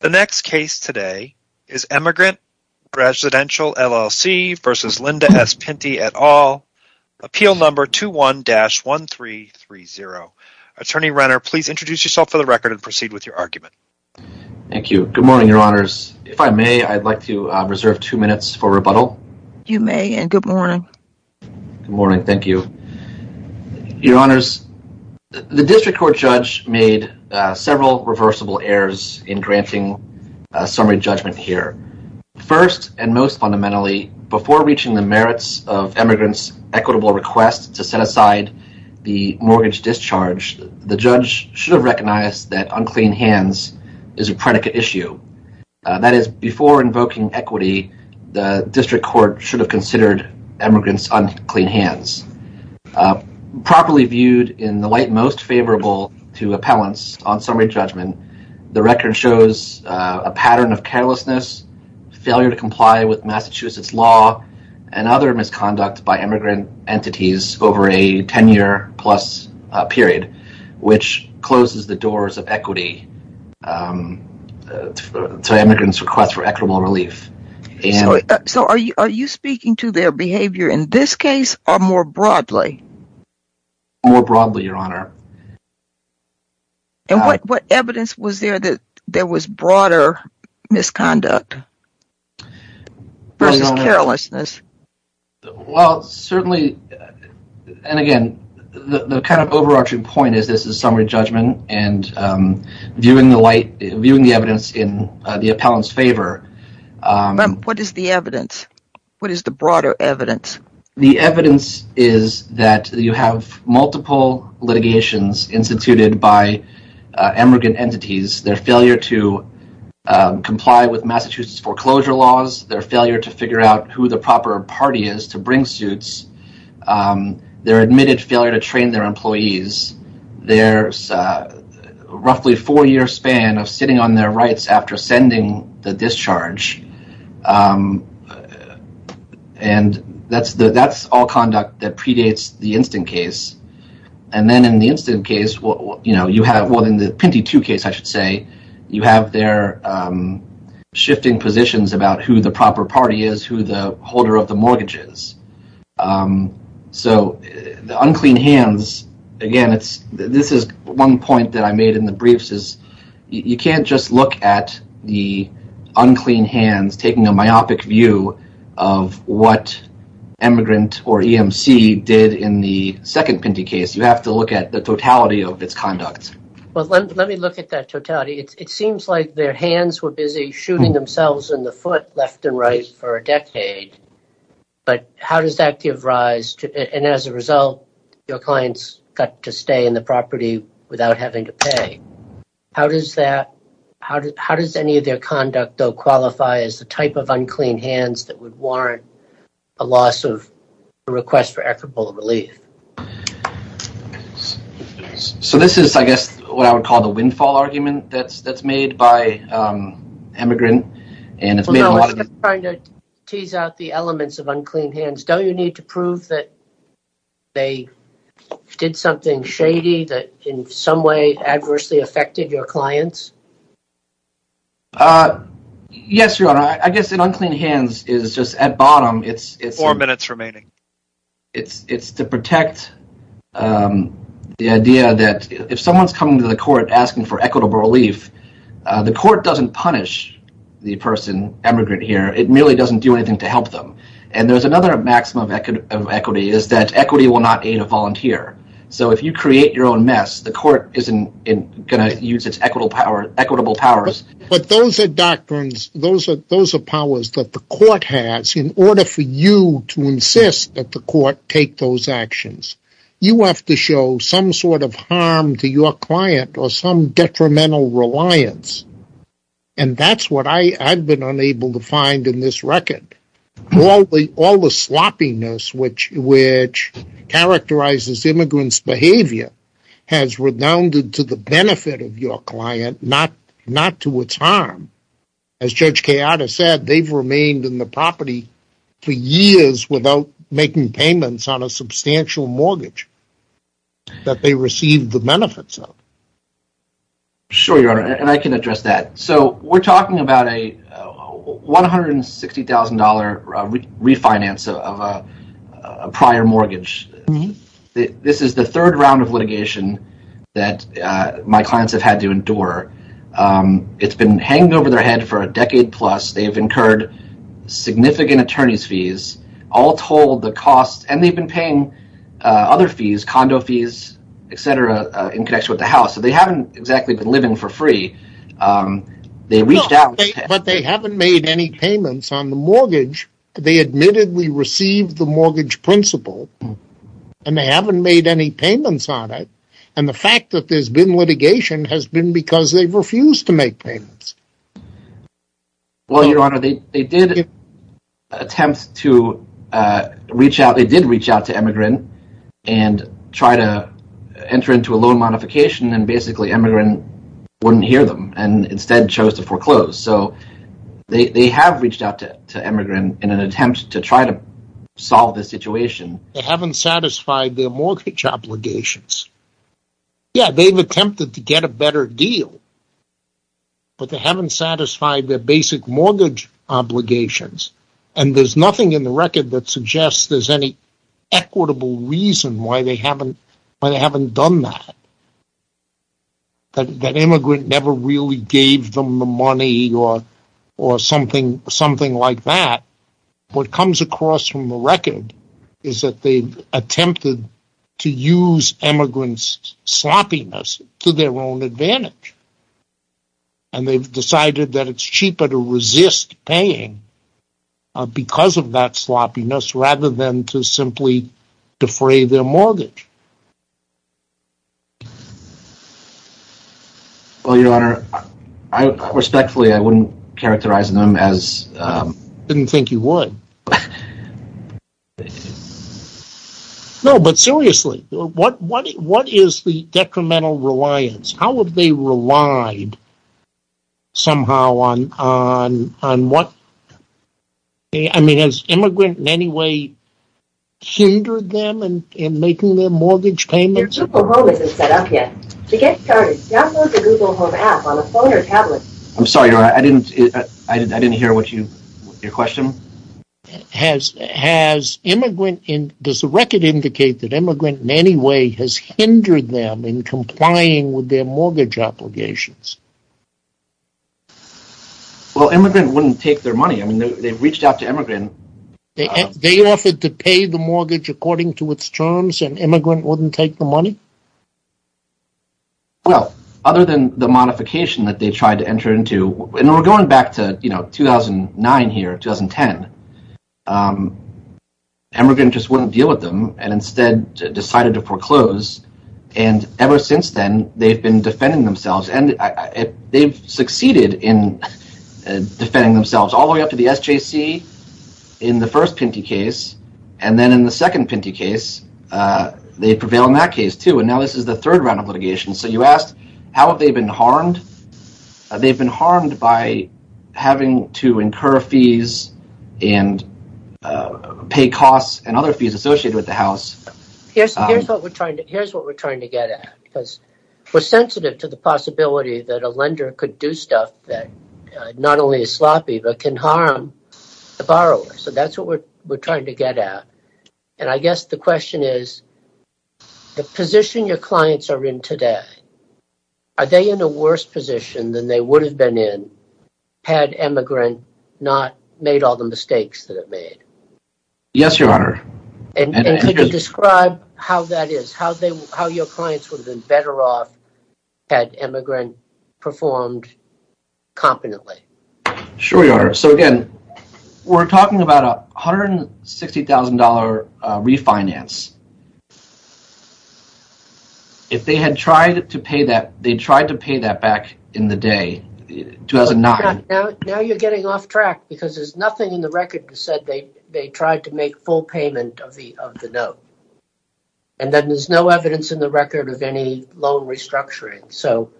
The next case today is Emigrant Residential LLC v. Linda S. Pinti et al. Appeal Number 21-1330. Attorney Renner, please introduce yourself for the record and proceed with your argument. Thank you. Good morning, Your Honors. If I may, I'd like to reserve two minutes for rebuttal. You may. And good morning. Good morning. Thank you. Your Honors, the district court judge made several reversible errors in granting summary judgment here. First and most fundamentally, before reaching the merits of emigrants' equitable request to set aside the mortgage discharge, the judge should have recognized that unclean hands is a predicate issue. That is, before invoking equity, the district court should have considered emigrants' unclean hands. Properly viewed in the light most favorable to appellants on summary judgment, the record shows a pattern of carelessness, failure to comply with Massachusetts law, and other misconduct by emigrant entities over a 10-year-plus period, which closes the doors of equity to emigrants' request for equitable relief. So, are you speaking to their behavior in this case or more broadly? More broadly, Your Honor. And what evidence was there that there was broader misconduct versus carelessness? Well, certainly, and again, the kind of overarching point is this is summary judgment, and viewing the evidence in the appellant's favor. What is the evidence? What is the broader evidence? The evidence is that you have multiple litigations instituted by emigrant entities, their failure to comply with Massachusetts foreclosure laws, their failure to figure out who the proper party is to bring suits, their admitted failure to train their employees, their roughly four year span of sitting on their rights after sending the discharge, and that's all conduct that predates the instant case. And then in the instant case, well, in the Pinty 2 case, I should say, you have their shifting positions about who the proper party is, who the holder of the mortgage is. So, the unclean hands, again, this is one point that I made in the briefs is you can't just look at the unclean hands taking a myopic view of what emigrant or EMC did in the second Pinty case. You have to look at the totality of its conduct. Well, let me look at that totality. It seems like their hands were busy shooting themselves in the foot left and right for a decade, but how does that give rise to, and as a result, your clients got to stay in the property without having to pay. How does that, how does any of their conduct though qualify as the type of unclean hands that would warrant a loss of a request for equitable relief? So this is, I guess, what I would call the windfall argument that's made by emigrant Well, no, I was just trying to tease out the elements of unclean hands. Don't you need to prove that they did something shady that in some way adversely affected your clients? Yes, Your Honor. I guess in unclean hands is just at bottom, it's Four minutes remaining. It's to protect the idea that if someone's coming to the court asking for equitable relief, the court doesn't punish the person, emigrant here. It merely doesn't do anything to help them, and there's another maxim of equity is that equity will not aid a volunteer. So if you create your own mess, the court isn't going to use its equitable powers. But those are doctrines, those are powers that the court has in order for you to insist that the court take those actions. You have to show some sort of harm to your client or some detrimental reliance. And that's what I've been unable to find in this record. All the sloppiness, which characterizes immigrants' behavior, has redounded to the benefit of your client, not to its harm. As Judge Chiara said, they've remained in the property for years without making payments on a substantial mortgage that they received the benefits of. Sure, Your Honor, and I can address that. So we're talking about a $160,000 refinance of a prior mortgage. This is the third round of litigation that my clients have had to endure. It's been hanging over their head for a decade plus. They've incurred significant attorney's fees, all told the costs, and they've been paying other fees, condo fees, etc., in connection with the house. So they haven't exactly been living for free. They reached out. But they haven't made any payments on the mortgage. They admittedly received the mortgage principle, and they haven't made any payments on it. And the fact that there's been litigation has been because they've refused to make payments. Well, Your Honor, they did attempt to reach out. They did reach out to Emigrin and try to enter into a loan modification, and basically Emigrin wouldn't hear them and instead chose to foreclose. So they have reached out to Emigrin in an attempt to try to solve the situation. They haven't satisfied their mortgage obligations. Yeah, they've attempted to get a better deal, but they haven't satisfied their basic mortgage obligations, and there's nothing in the record that suggests there's any equitable reason why they haven't done that. That Emigrin never really gave them the money or something like that. What comes across from the record is that they've attempted to use Emigrin's sloppiness to their own advantage. And they've decided that it's cheaper to resist paying because of that sloppiness rather than to simply defray their mortgage. Well, Your Honor, respectfully, I wouldn't characterize them as... I didn't think you would. No, but seriously, what is the detrimental reliance? How have they relied somehow on what... I mean, has Emigrin in any way hindered them in making their mortgage payments? Your Google Home isn't set up yet. To get started, download the Google Home app on a phone or tablet. I'm sorry, Your Honor, I didn't hear your question. Has Emigrin... Does the record indicate that Emigrin in any way has hindered them in complying with their mortgage obligations? Well, Emigrin wouldn't take their money. They've reached out to Emigrin. They offered to pay the mortgage according to its terms and Emigrin wouldn't take the money? Well, other than the modification that they tried to enter into, and we're going back to 2009 here, 2010, Emigrin just wouldn't deal with them and instead decided to foreclose. And ever since then, they've been defending themselves and they've succeeded in defending themselves all the way up to the SJC in the first Pinty case. And then in the second Pinty case, they prevailed in that case, too. And now this is the third round of litigation. So you asked, how have they been harmed? They've been harmed by having to incur fees and pay costs and other fees associated with the house. Here's what we're trying to get at, because we're sensitive to the possibility that a can harm the borrower. So that's what we're trying to get at. And I guess the question is, the position your clients are in today, are they in a worse position than they would have been in had Emigrin not made all the mistakes that it made? Yes, Your Honor. And could you describe how that is, how your clients would have been better off had Emigrin performed competently? Sure, Your Honor. So again, we're talking about a $160,000 refinance. If they had tried to pay that, they tried to pay that back in the day, 2009. Now you're getting off track because there's nothing in the record that said they tried to make full payment of the note. And then there's no evidence in the record of any loan restructuring. So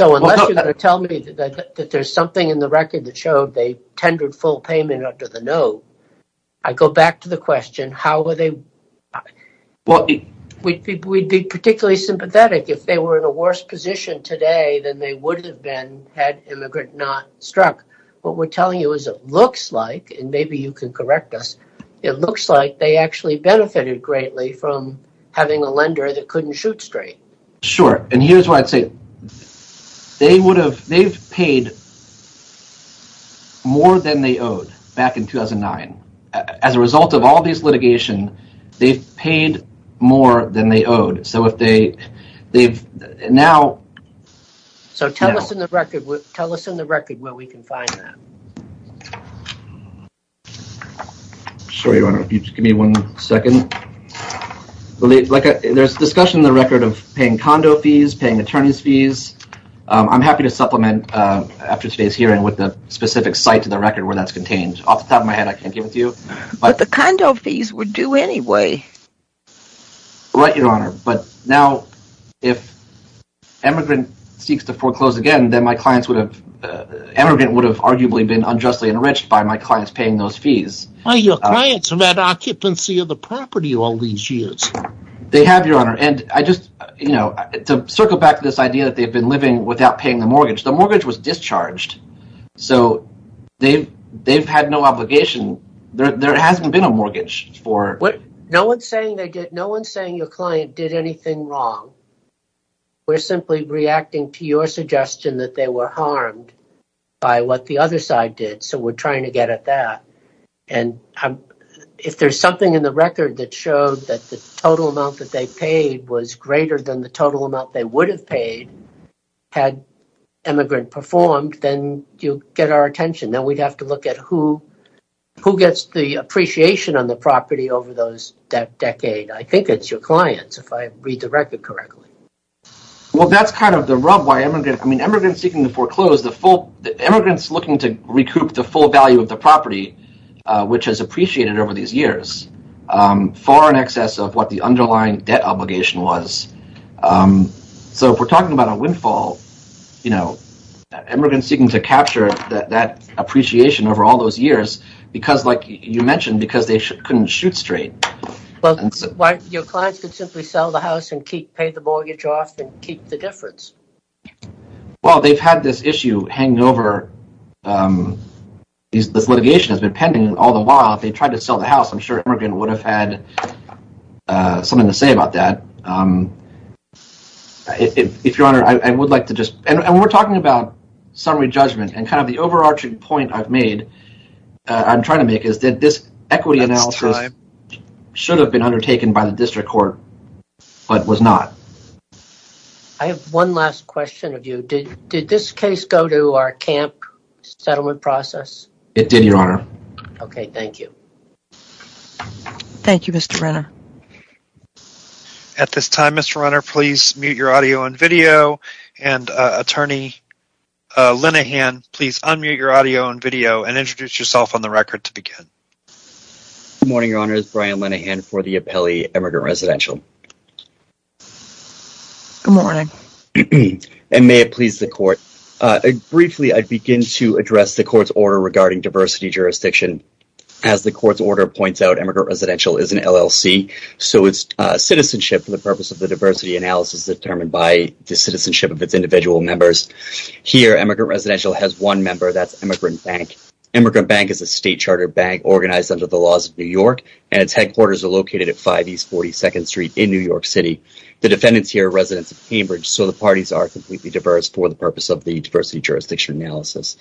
unless you're going to tell me that there's something in the record that showed they tendered full payment under the note, I go back to the question, how were they? We'd be particularly sympathetic if they were in a worse position today than they would have been had Emigrin not struck. What we're telling you is it looks like, and maybe you can correct us, it looks like they actually benefited greatly from having a lender that couldn't shoot straight. Sure. And here's why I'd say they would have, they've paid more than they owed back in 2009. As a result of all these litigation, they've paid more than they owed. So if they, they've now. So tell us in the record, tell us in the record where we can find that. Sure, Your Honor. If you just give me one second. Well, there's discussion in the record of paying condo fees, paying attorney's fees. I'm happy to supplement after today's hearing with the specific site to the record where that's contained. Off the top of my head, I can't give it to you. But the condo fees were due anyway. Right, Your Honor. But now if Emigrin seeks to foreclose again, then my clients would have, Emigrin would have arguably been unjustly enriched by my clients paying those fees. Your clients have had occupancy of the property all these years. They have, Your Honor. And I just, you know, to circle back to this idea that they've been living without paying the mortgage, the mortgage was discharged. So they've, they've had no obligation. There hasn't been a mortgage for. What? No one's saying they did. No one's saying your client did anything wrong. We're simply reacting to your suggestion that they were harmed by what the other side did. So we're trying to get at that. And if there's something in the record that showed that the total amount that they paid was greater than the total amount they would have paid had Emigrin performed, then you get our attention. Then we'd have to look at who, who gets the appreciation on the property over those, that decade. I think it's your clients, if I read the record correctly. Well, that's kind of the rub why Emigrin, I mean, Emigrin seeking to foreclose the full, Emigrin's looking to recoup the full value of the property, which has appreciated over these years, far in excess of what the underlying debt obligation was. So if we're talking about a windfall, you know, Emigrin seeking to capture that appreciation over all those years, because like you mentioned, because they couldn't shoot straight. Well, your clients could simply sell the house and keep, pay the mortgage off and keep the difference. Well, they've had this issue hanging over, um, this litigation has been pending all the while. They tried to sell the house. I'm sure Emigrin would have had, uh, something to say about that. Um, if, if, if your honor, I would like to just, and we're talking about summary judgment and kind of the overarching point I've made, uh, I'm trying to make is that this equity analysis should have been undertaken by the district court, but was not. I have one last question of you. Did, did this case go to our camp settlement process? It did, your honor. Okay. Thank you. Thank you, Mr. Renner. At this time, Mr. Renner, please mute your audio and video and, uh, attorney, uh, Linehan, please unmute your audio and video and introduce yourself on the record to begin. Good morning, your honor. It's Brian Linehan for the Apelli Emigrant Residential. Good morning. And may it please the court. Uh, briefly, I'd begin to address the court's order regarding diversity jurisdiction. As the court's order points out, emigrant residential is an LLC. So it's a citizenship for the purpose of the diversity analysis determined by the citizenship of its individual members. Here, emigrant residential has one member, that's Emigrin Bank. Emigrin Bank is a state charter bank organized under the laws of New York and its headquarters are located at 5 East 42nd Street in New York City. The defendants here are residents of Cambridge, so the parties are completely diverse for the purpose of the diversity jurisdiction analysis.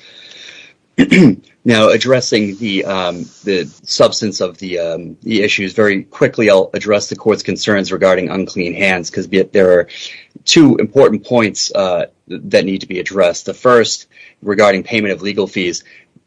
Now, addressing the, um, the substance of the, um, the issues very quickly, I'll address the court's concerns regarding unclean hands, because there are two important points, uh, that need to be addressed. The first regarding payment of legal fees.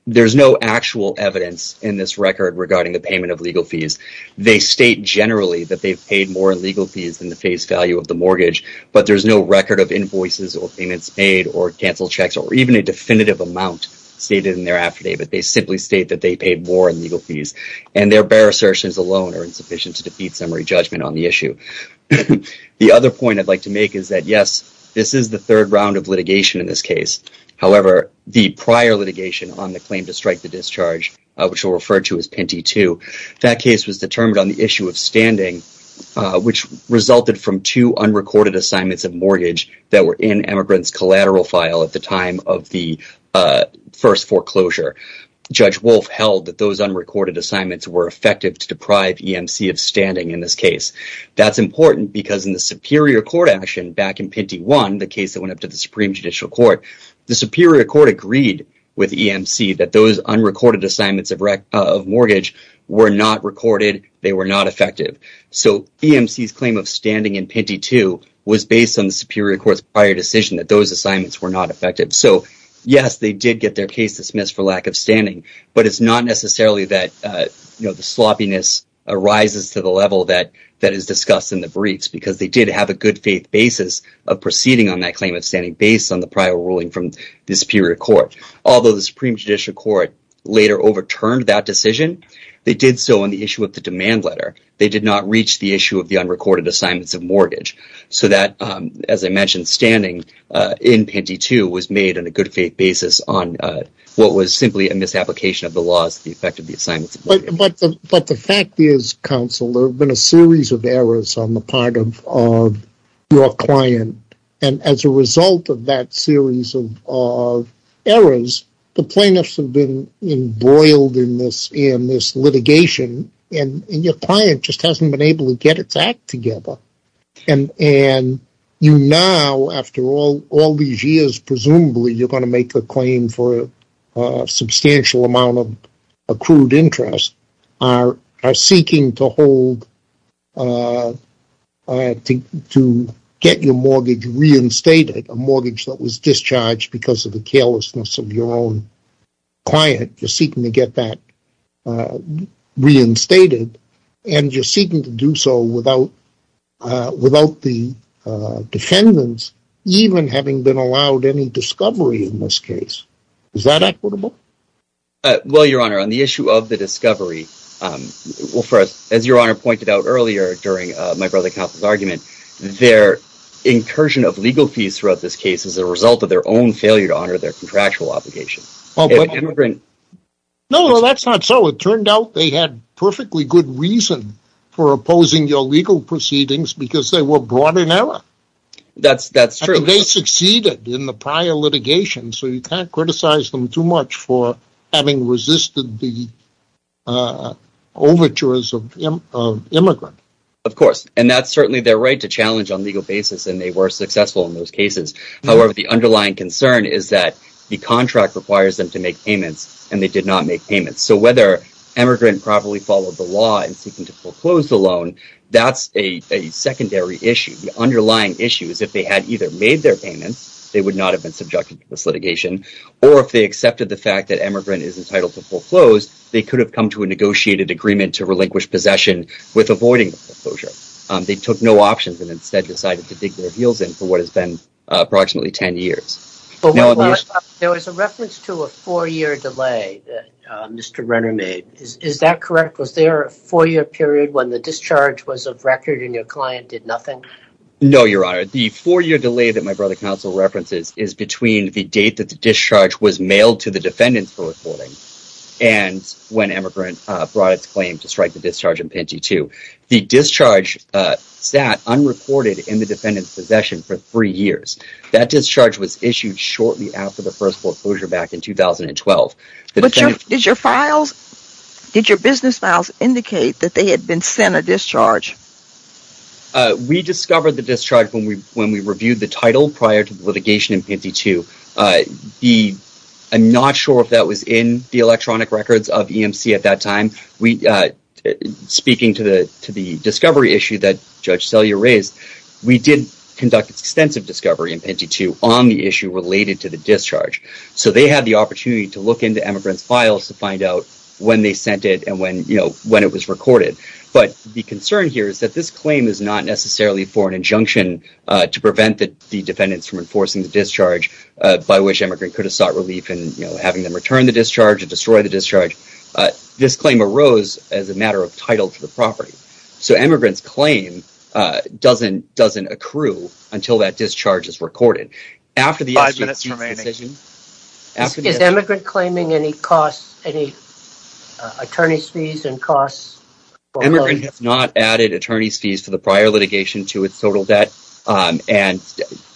There's no actual evidence in this record regarding the payment of legal fees. They state generally that they've paid more in legal fees than the face value of the mortgage, but there's no record of invoices or payments made or canceled checks or even a definitive amount stated in their affidavit. They simply state that they paid more in legal fees and their bare assertions alone are insufficient to defeat summary judgment on the issue. The other point I'd like to make is that, yes, this is the third round of litigation in this case. However, the prior litigation on the claim to strike the discharge, uh, which we'll refer to as Pinty 2, that case was determined on the issue of standing, uh, which resulted from two unrecorded assignments of mortgage that were in emigrant's collateral file at the time of the, uh, first foreclosure. Judge Wolf held that those unrecorded assignments were effective to deprive EMC of standing in this case. That's important because in the Superior Court action back in Pinty 1, the case that went up to the Supreme Judicial Court, the Superior Court agreed with EMC that those were not recorded. They were not effective. So EMC's claim of standing in Pinty 2 was based on the Superior Court's prior decision that those assignments were not effective. So, yes, they did get their case dismissed for lack of standing, but it's not necessarily that, uh, you know, the sloppiness arises to the level that, that is discussed in the briefs because they did have a good faith basis of proceeding on that claim of standing based on the prior ruling from the Superior Court. Although the Supreme Judicial Court later overturned that decision, they did so on the issue of the demand letter. They did not reach the issue of the unrecorded assignments of mortgage. So that, um, as I mentioned, standing, uh, in Pinty 2 was made on a good faith basis on, uh, what was simply a misapplication of the laws to the effect of the assignments of mortgage. But the fact is, counsel, there have been a series of errors on the part of, of your the plaintiffs have been embroiled in this, in this litigation and your client just hasn't been able to get its act together. And, and you now, after all, all these years, presumably you're going to make a claim for a substantial amount of accrued interest are, are seeking to hold, uh, uh, to, to get your own client. You're seeking to get that, uh, reinstated and you're seeking to do so without, uh, without the, uh, defendants even having been allowed any discovery in this case. Is that equitable? Well, Your Honor, on the issue of the discovery, um, well, for us, as Your Honor pointed out earlier during, uh, my brother's argument, their incursion of legal fees throughout this is a result of their own failure to honor their contractual obligation. No, that's not so. It turned out they had perfectly good reason for opposing your legal proceedings because they were brought in error. That's, that's true. They succeeded in the prior litigation. So you can't criticize them too much for having resisted the, uh, overtures of immigrant. Of course. And that's certainly their right to challenge on legal basis. And they were successful in those cases. However, the underlying concern is that the contract requires them to make payments and they did not make payments. So whether emigrant properly followed the law and seeking to foreclose the loan, that's a secondary issue. The underlying issue is if they had either made their payments, they would not have been subjected to this litigation. Or if they accepted the fact that emigrant is entitled to foreclose, they could have come to a negotiated agreement to relinquish possession with avoiding foreclosure. They took no options and instead decided to dig their heels in for what has been approximately 10 years. There was a reference to a four-year delay that Mr. Renner made. Is that correct? Was there a four-year period when the discharge was of record and your client did nothing? No, Your Honor. The four-year delay that my brother counsel references is between the date that the discharge was mailed to the defendants for reporting and when emigrant brought its claim to strike the discharge in Pangee II. The discharge sat unrecorded in the defendant's possession for three years. That discharge was issued shortly after the first foreclosure back in 2012. Did your business files indicate that they had been sent a discharge? We discovered the discharge when we reviewed the title prior to litigation in Pangee II. I'm not sure if that was in the electronic records of EMC at that time. We, speaking to the discovery issue that Judge Sellier raised, we did conduct extensive discovery in Pangee II on the issue related to the discharge. So, they had the opportunity to look into emigrant's files to find out when they sent it and when it was recorded. But the concern here is that this claim is not necessarily for an injunction to prevent the defendants from enforcing the discharge by which emigrant could have sought relief in having them return the discharge or destroy the discharge. This claim arose as a matter of title to the property. So, emigrant's claim doesn't accrue until that discharge is recorded. Is emigrant claiming any costs, any attorney's fees and costs? Emigrant has not added attorney's fees for the prior litigation to its total debt. And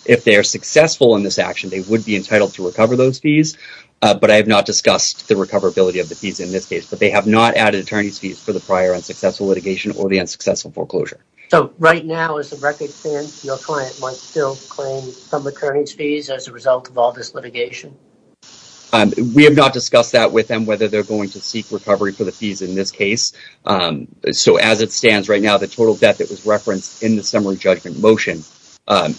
if they are successful in this action, they would be entitled to recover those fees. But I have not discussed the recoverability of the fees in this case. But they have not added attorney's fees for the prior unsuccessful litigation or the unsuccessful foreclosure. So, right now, as it stands, your client might still claim some attorney's fees as a result of all this litigation? We have not discussed that with them, whether they're going to seek recovery for the fees in this case. So, as it stands right now, the total debt that was referenced in the summary judgment motion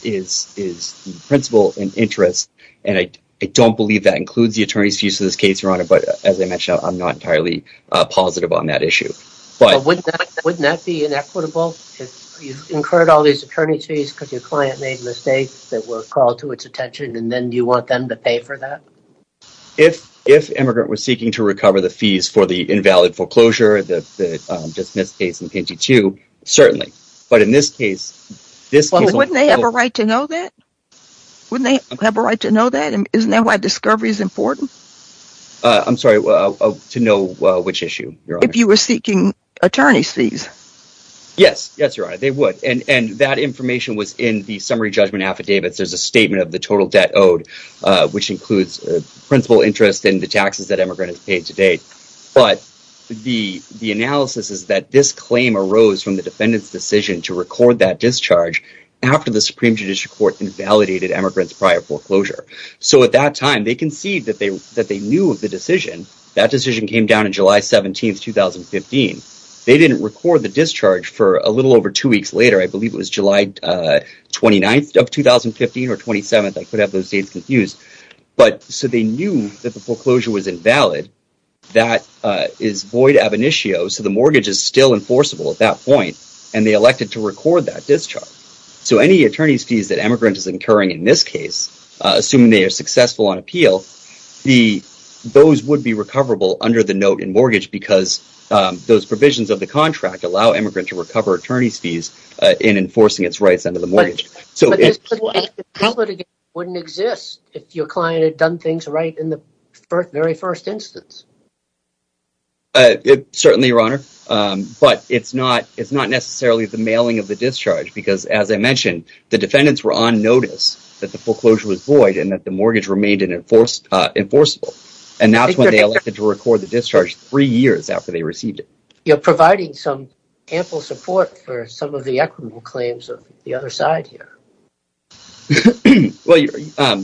is the principal and interest. And I don't believe that includes the attorney's fees for this case, Your Honor. But as I mentioned, I'm not entirely positive on that issue. But wouldn't that be inequitable? If you incurred all these attorney's fees because your client made mistakes that were called to its attention, and then you want them to pay for that? If emigrant was seeking to recover the fees for the invalid foreclosure, the dismissed case in PG-2, certainly. But in this case, this case... Well, wouldn't they have a right to know that? Wouldn't they have a right to know that? Isn't that why discovery is important? I'm sorry, to know which issue, Your Honor? If you were seeking attorney's fees. Yes. Yes, Your Honor, they would. And that information was in the summary judgment affidavits. There's a statement of the total debt owed, which includes principal interest and the taxes that emigrant has paid to date. But the analysis is that this claim arose from the defendant's decision to record that discharge after the Supreme Judicial Court invalidated emigrant's prior foreclosure. So at that time, they concede that they knew of the decision. That decision came down on July 17th, 2015. They didn't record the discharge for a little over two weeks later. I believe it was July 29th of 2015 or 27th. I could have those dates confused. But so they knew that the foreclosure was invalid. That is void ab initio. So the mortgage is still enforceable at that point. And they elected to record that discharge. So any attorney's fees that emigrant is incurring in this case, assuming they are successful on appeal, those would be recoverable under the note in mortgage because those provisions of the contract allow emigrant to recover attorney's fees in enforcing its rights under the mortgage. So it wouldn't exist if your client had done things right in the very first instance. Certainly, Your Honor. But it's not necessarily the mailing of the discharge because, as I mentioned, the defendants were on notice that the foreclosure was void and that the mortgage remained enforceable. And that's when they elected to record the discharge three years after they received it. You're providing some ample support for some of the equitable claims of the other side here. Well, I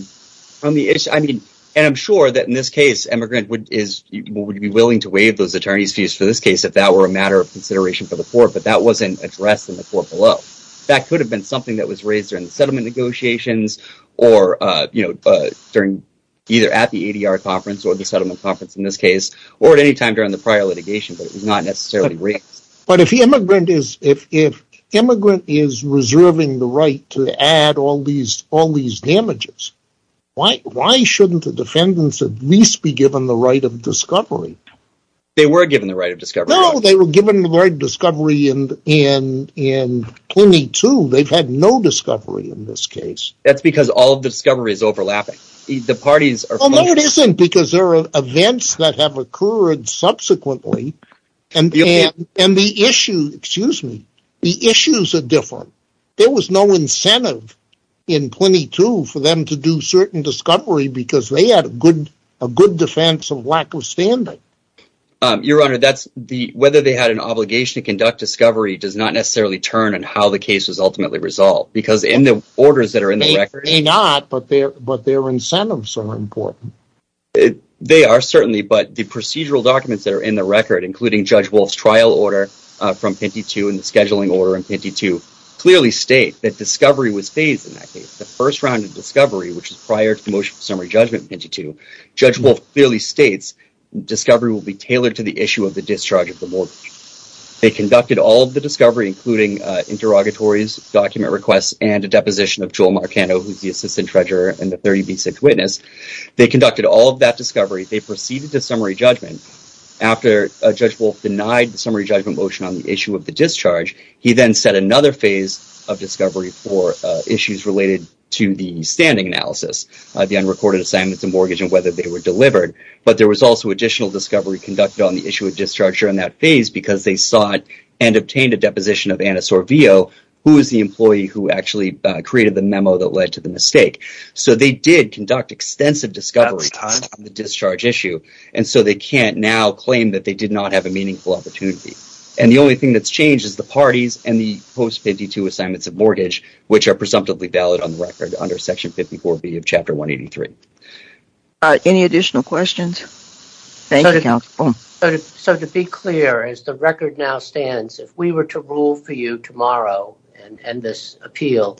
mean, and I'm sure that in this case, emigrant would be willing to waive those attorney's fees for this case if that were a matter of consideration for the court. But that wasn't addressed in the court below. That could have been something that was raised in the settlement negotiations or, you know, during either at the ADR conference or the settlement conference in this case or at any time during the prior litigation. But it was not necessarily raised. But if the emigrant is reserving the right to add all these damages, why shouldn't the defendants at least be given the right of discovery? They were given the right of discovery. No, they were given the right of discovery in 22. They've had no discovery in this case. That's because all of the discovery is overlapping. The parties are. No, it isn't because there are events that have occurred subsequently and the issue. Excuse me. The issues are different. There was no incentive in 22 for them to do certain discovery because they had a good defense of lack of standing. Your Honor, that's the whether they had an obligation to conduct discovery does not necessarily turn on how the case was ultimately resolved because in the orders that are in the record. They may not, but their incentives are important. They are certainly, but the procedural documents that are in the record, including Judge Wolf's trial order from 22 and the scheduling order in 22 clearly state that discovery was phased in that case. The first round of discovery, which is prior to the motion for summary judgment in 22, Judge Wolf clearly states discovery will be tailored to the issue of the discharge of the mortgage. They conducted all of the discovery, including interrogatories, document requests, and a deposition of Joel Marcano, who's the assistant treasurer and the 30B6 witness. They conducted all of that discovery. They proceeded to summary judgment. After Judge Wolf denied the summary judgment motion on the issue of the discharge, he then set another phase of discovery for issues related to the standing analysis, the unrecorded assignments and mortgage and whether they were delivered. But there was also additional discovery conducted on the issue of discharge during that phase because they sought and obtained a deposition of Anna Sorvio, who is the employee who actually created the memo that led to the mistake. So they did conduct extensive discovery on the discharge issue, and so they can't now claim that they did not have a meaningful opportunity. And the only thing that's changed is the parties and the post-52 assignments of mortgage, which are presumptively valid on the record under Section 54B of Chapter 183. Any additional questions? So to be clear, as the record now stands, if we were to rule for you tomorrow and this appeal,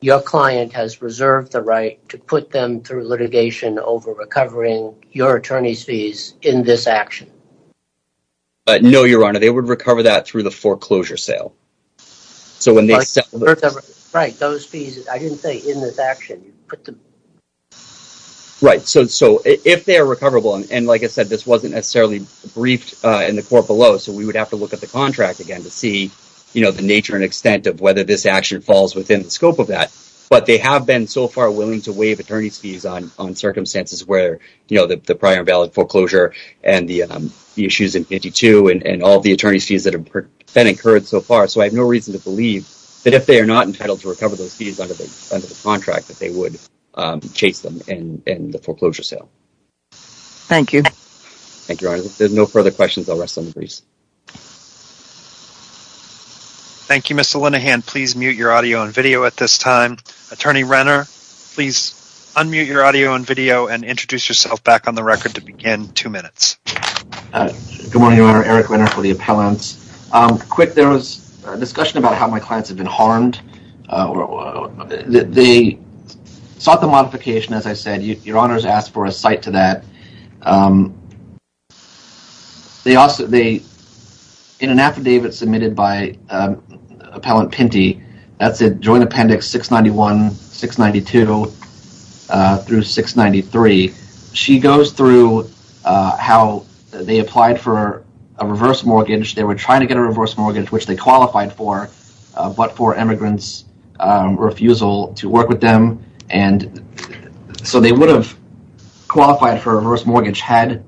your client has reserved the right to put them through litigation over recovering your attorney's fees in this action? No, Your Honor. They would recover that through the foreclosure sale. So when they accept... Right. Those fees, I didn't say in this action. Right. So if they are recoverable, and like I said, this wasn't necessarily briefed in the court below, so we would have to look at the contract again to see the nature and extent of whether this action falls within the scope of that. But they have been so far willing to waive attorney's fees on circumstances where, you know, the prior invalid foreclosure and the issues in 52 and all the attorney's fees that have been incurred so far. So I have no reason to believe that if they are not entitled to recover those fees under the contract, that they would chase them in the foreclosure sale. Thank you. Thank you, Your Honor. There's no further questions. I'll rest on the briefs. Thank you, Mr. Linehan. Please mute your audio and video at this time. Attorney Renner, please unmute your audio and video and introduce yourself back on the record to begin. Two minutes. Good morning, Your Honor. Eric Renner for the appellants. Quick, there was a discussion about how my clients have been harmed. They sought the modification, as I said. Your Honor's asked for a cite to that. Um, they also they in an affidavit submitted by Appellant Pinty, that's a joint appendix 691, 692 through 693. She goes through how they applied for a reverse mortgage. They were trying to get a reverse mortgage, which they qualified for, but for immigrants refusal to work with them. And so they would have qualified for a reverse mortgage had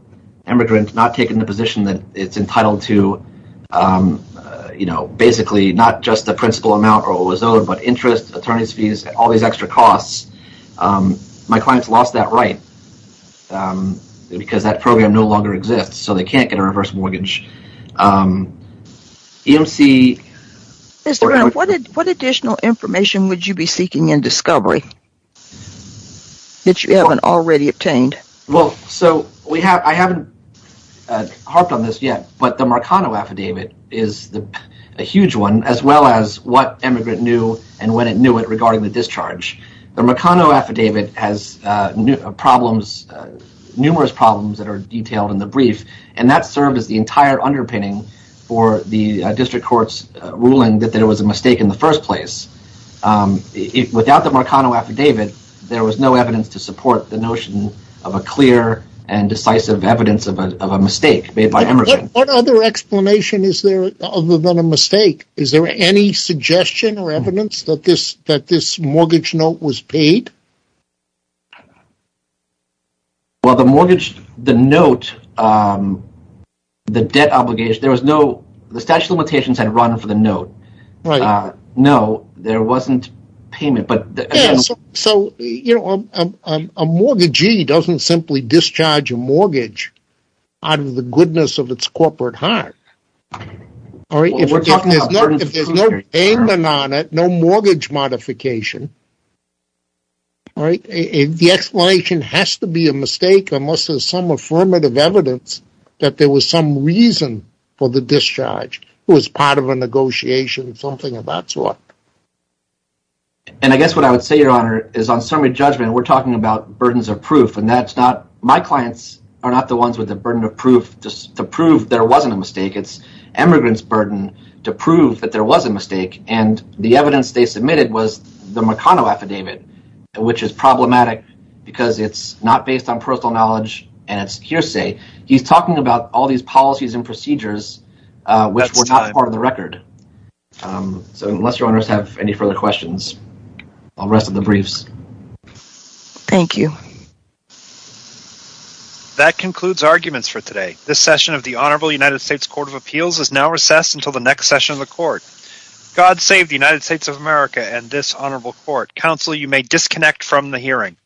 immigrant not taken the position that it's entitled to, you know, basically not just the principal amount or what was owed, but interest, attorney's fees, all these extra costs. My clients lost that right because that program no longer exists. So they can't get a reverse mortgage. EMC. Mr. Renner, what additional information would you be seeking in discovery? That you haven't already obtained. Well, so we have I haven't harped on this yet, but the Marcano affidavit is a huge one, as well as what immigrant knew and when it knew it regarding the discharge. The Marcano affidavit has problems, numerous problems that are detailed in the brief, and that served as the entire underpinning for the district court's ruling that there was a mistake in the first place. Without the Marcano affidavit, there was no evidence to support the notion of a clear and decisive evidence of a mistake made by immigrants. What other explanation is there other than a mistake? Is there any suggestion or evidence that this that this mortgage note was paid? Well, the mortgage, the note, the debt obligation, there was no the statute of limitations had run for the note. Right. No, there wasn't payment. But so, you know, a mortgagee doesn't simply discharge a mortgage out of the goodness of its corporate heart. All right, if there's no payment on it, no mortgage modification. All right, the explanation has to be a mistake. There must have some affirmative evidence that there was some reason for the discharge who was part of a negotiation, something of that sort. And I guess what I would say, Your Honor, is on summary judgment, we're talking about burdens of proof, and that's not my clients are not the ones with the burden of proof just to prove there wasn't a mistake. It's immigrants burden to prove that there was a mistake. And the evidence they submitted was the Marcano affidavit, which is problematic because it's not based on personal knowledge and it's hearsay. He's talking about all these policies and procedures, which were not part of the record. So unless Your Honors have any further questions, I'll rest of the briefs. Thank you. That concludes arguments for today. This session of the Honorable United States Court of Appeals is now recessed until the next session of the court. God save the United States of America and this honorable court. Counsel, you may disconnect from the hearing.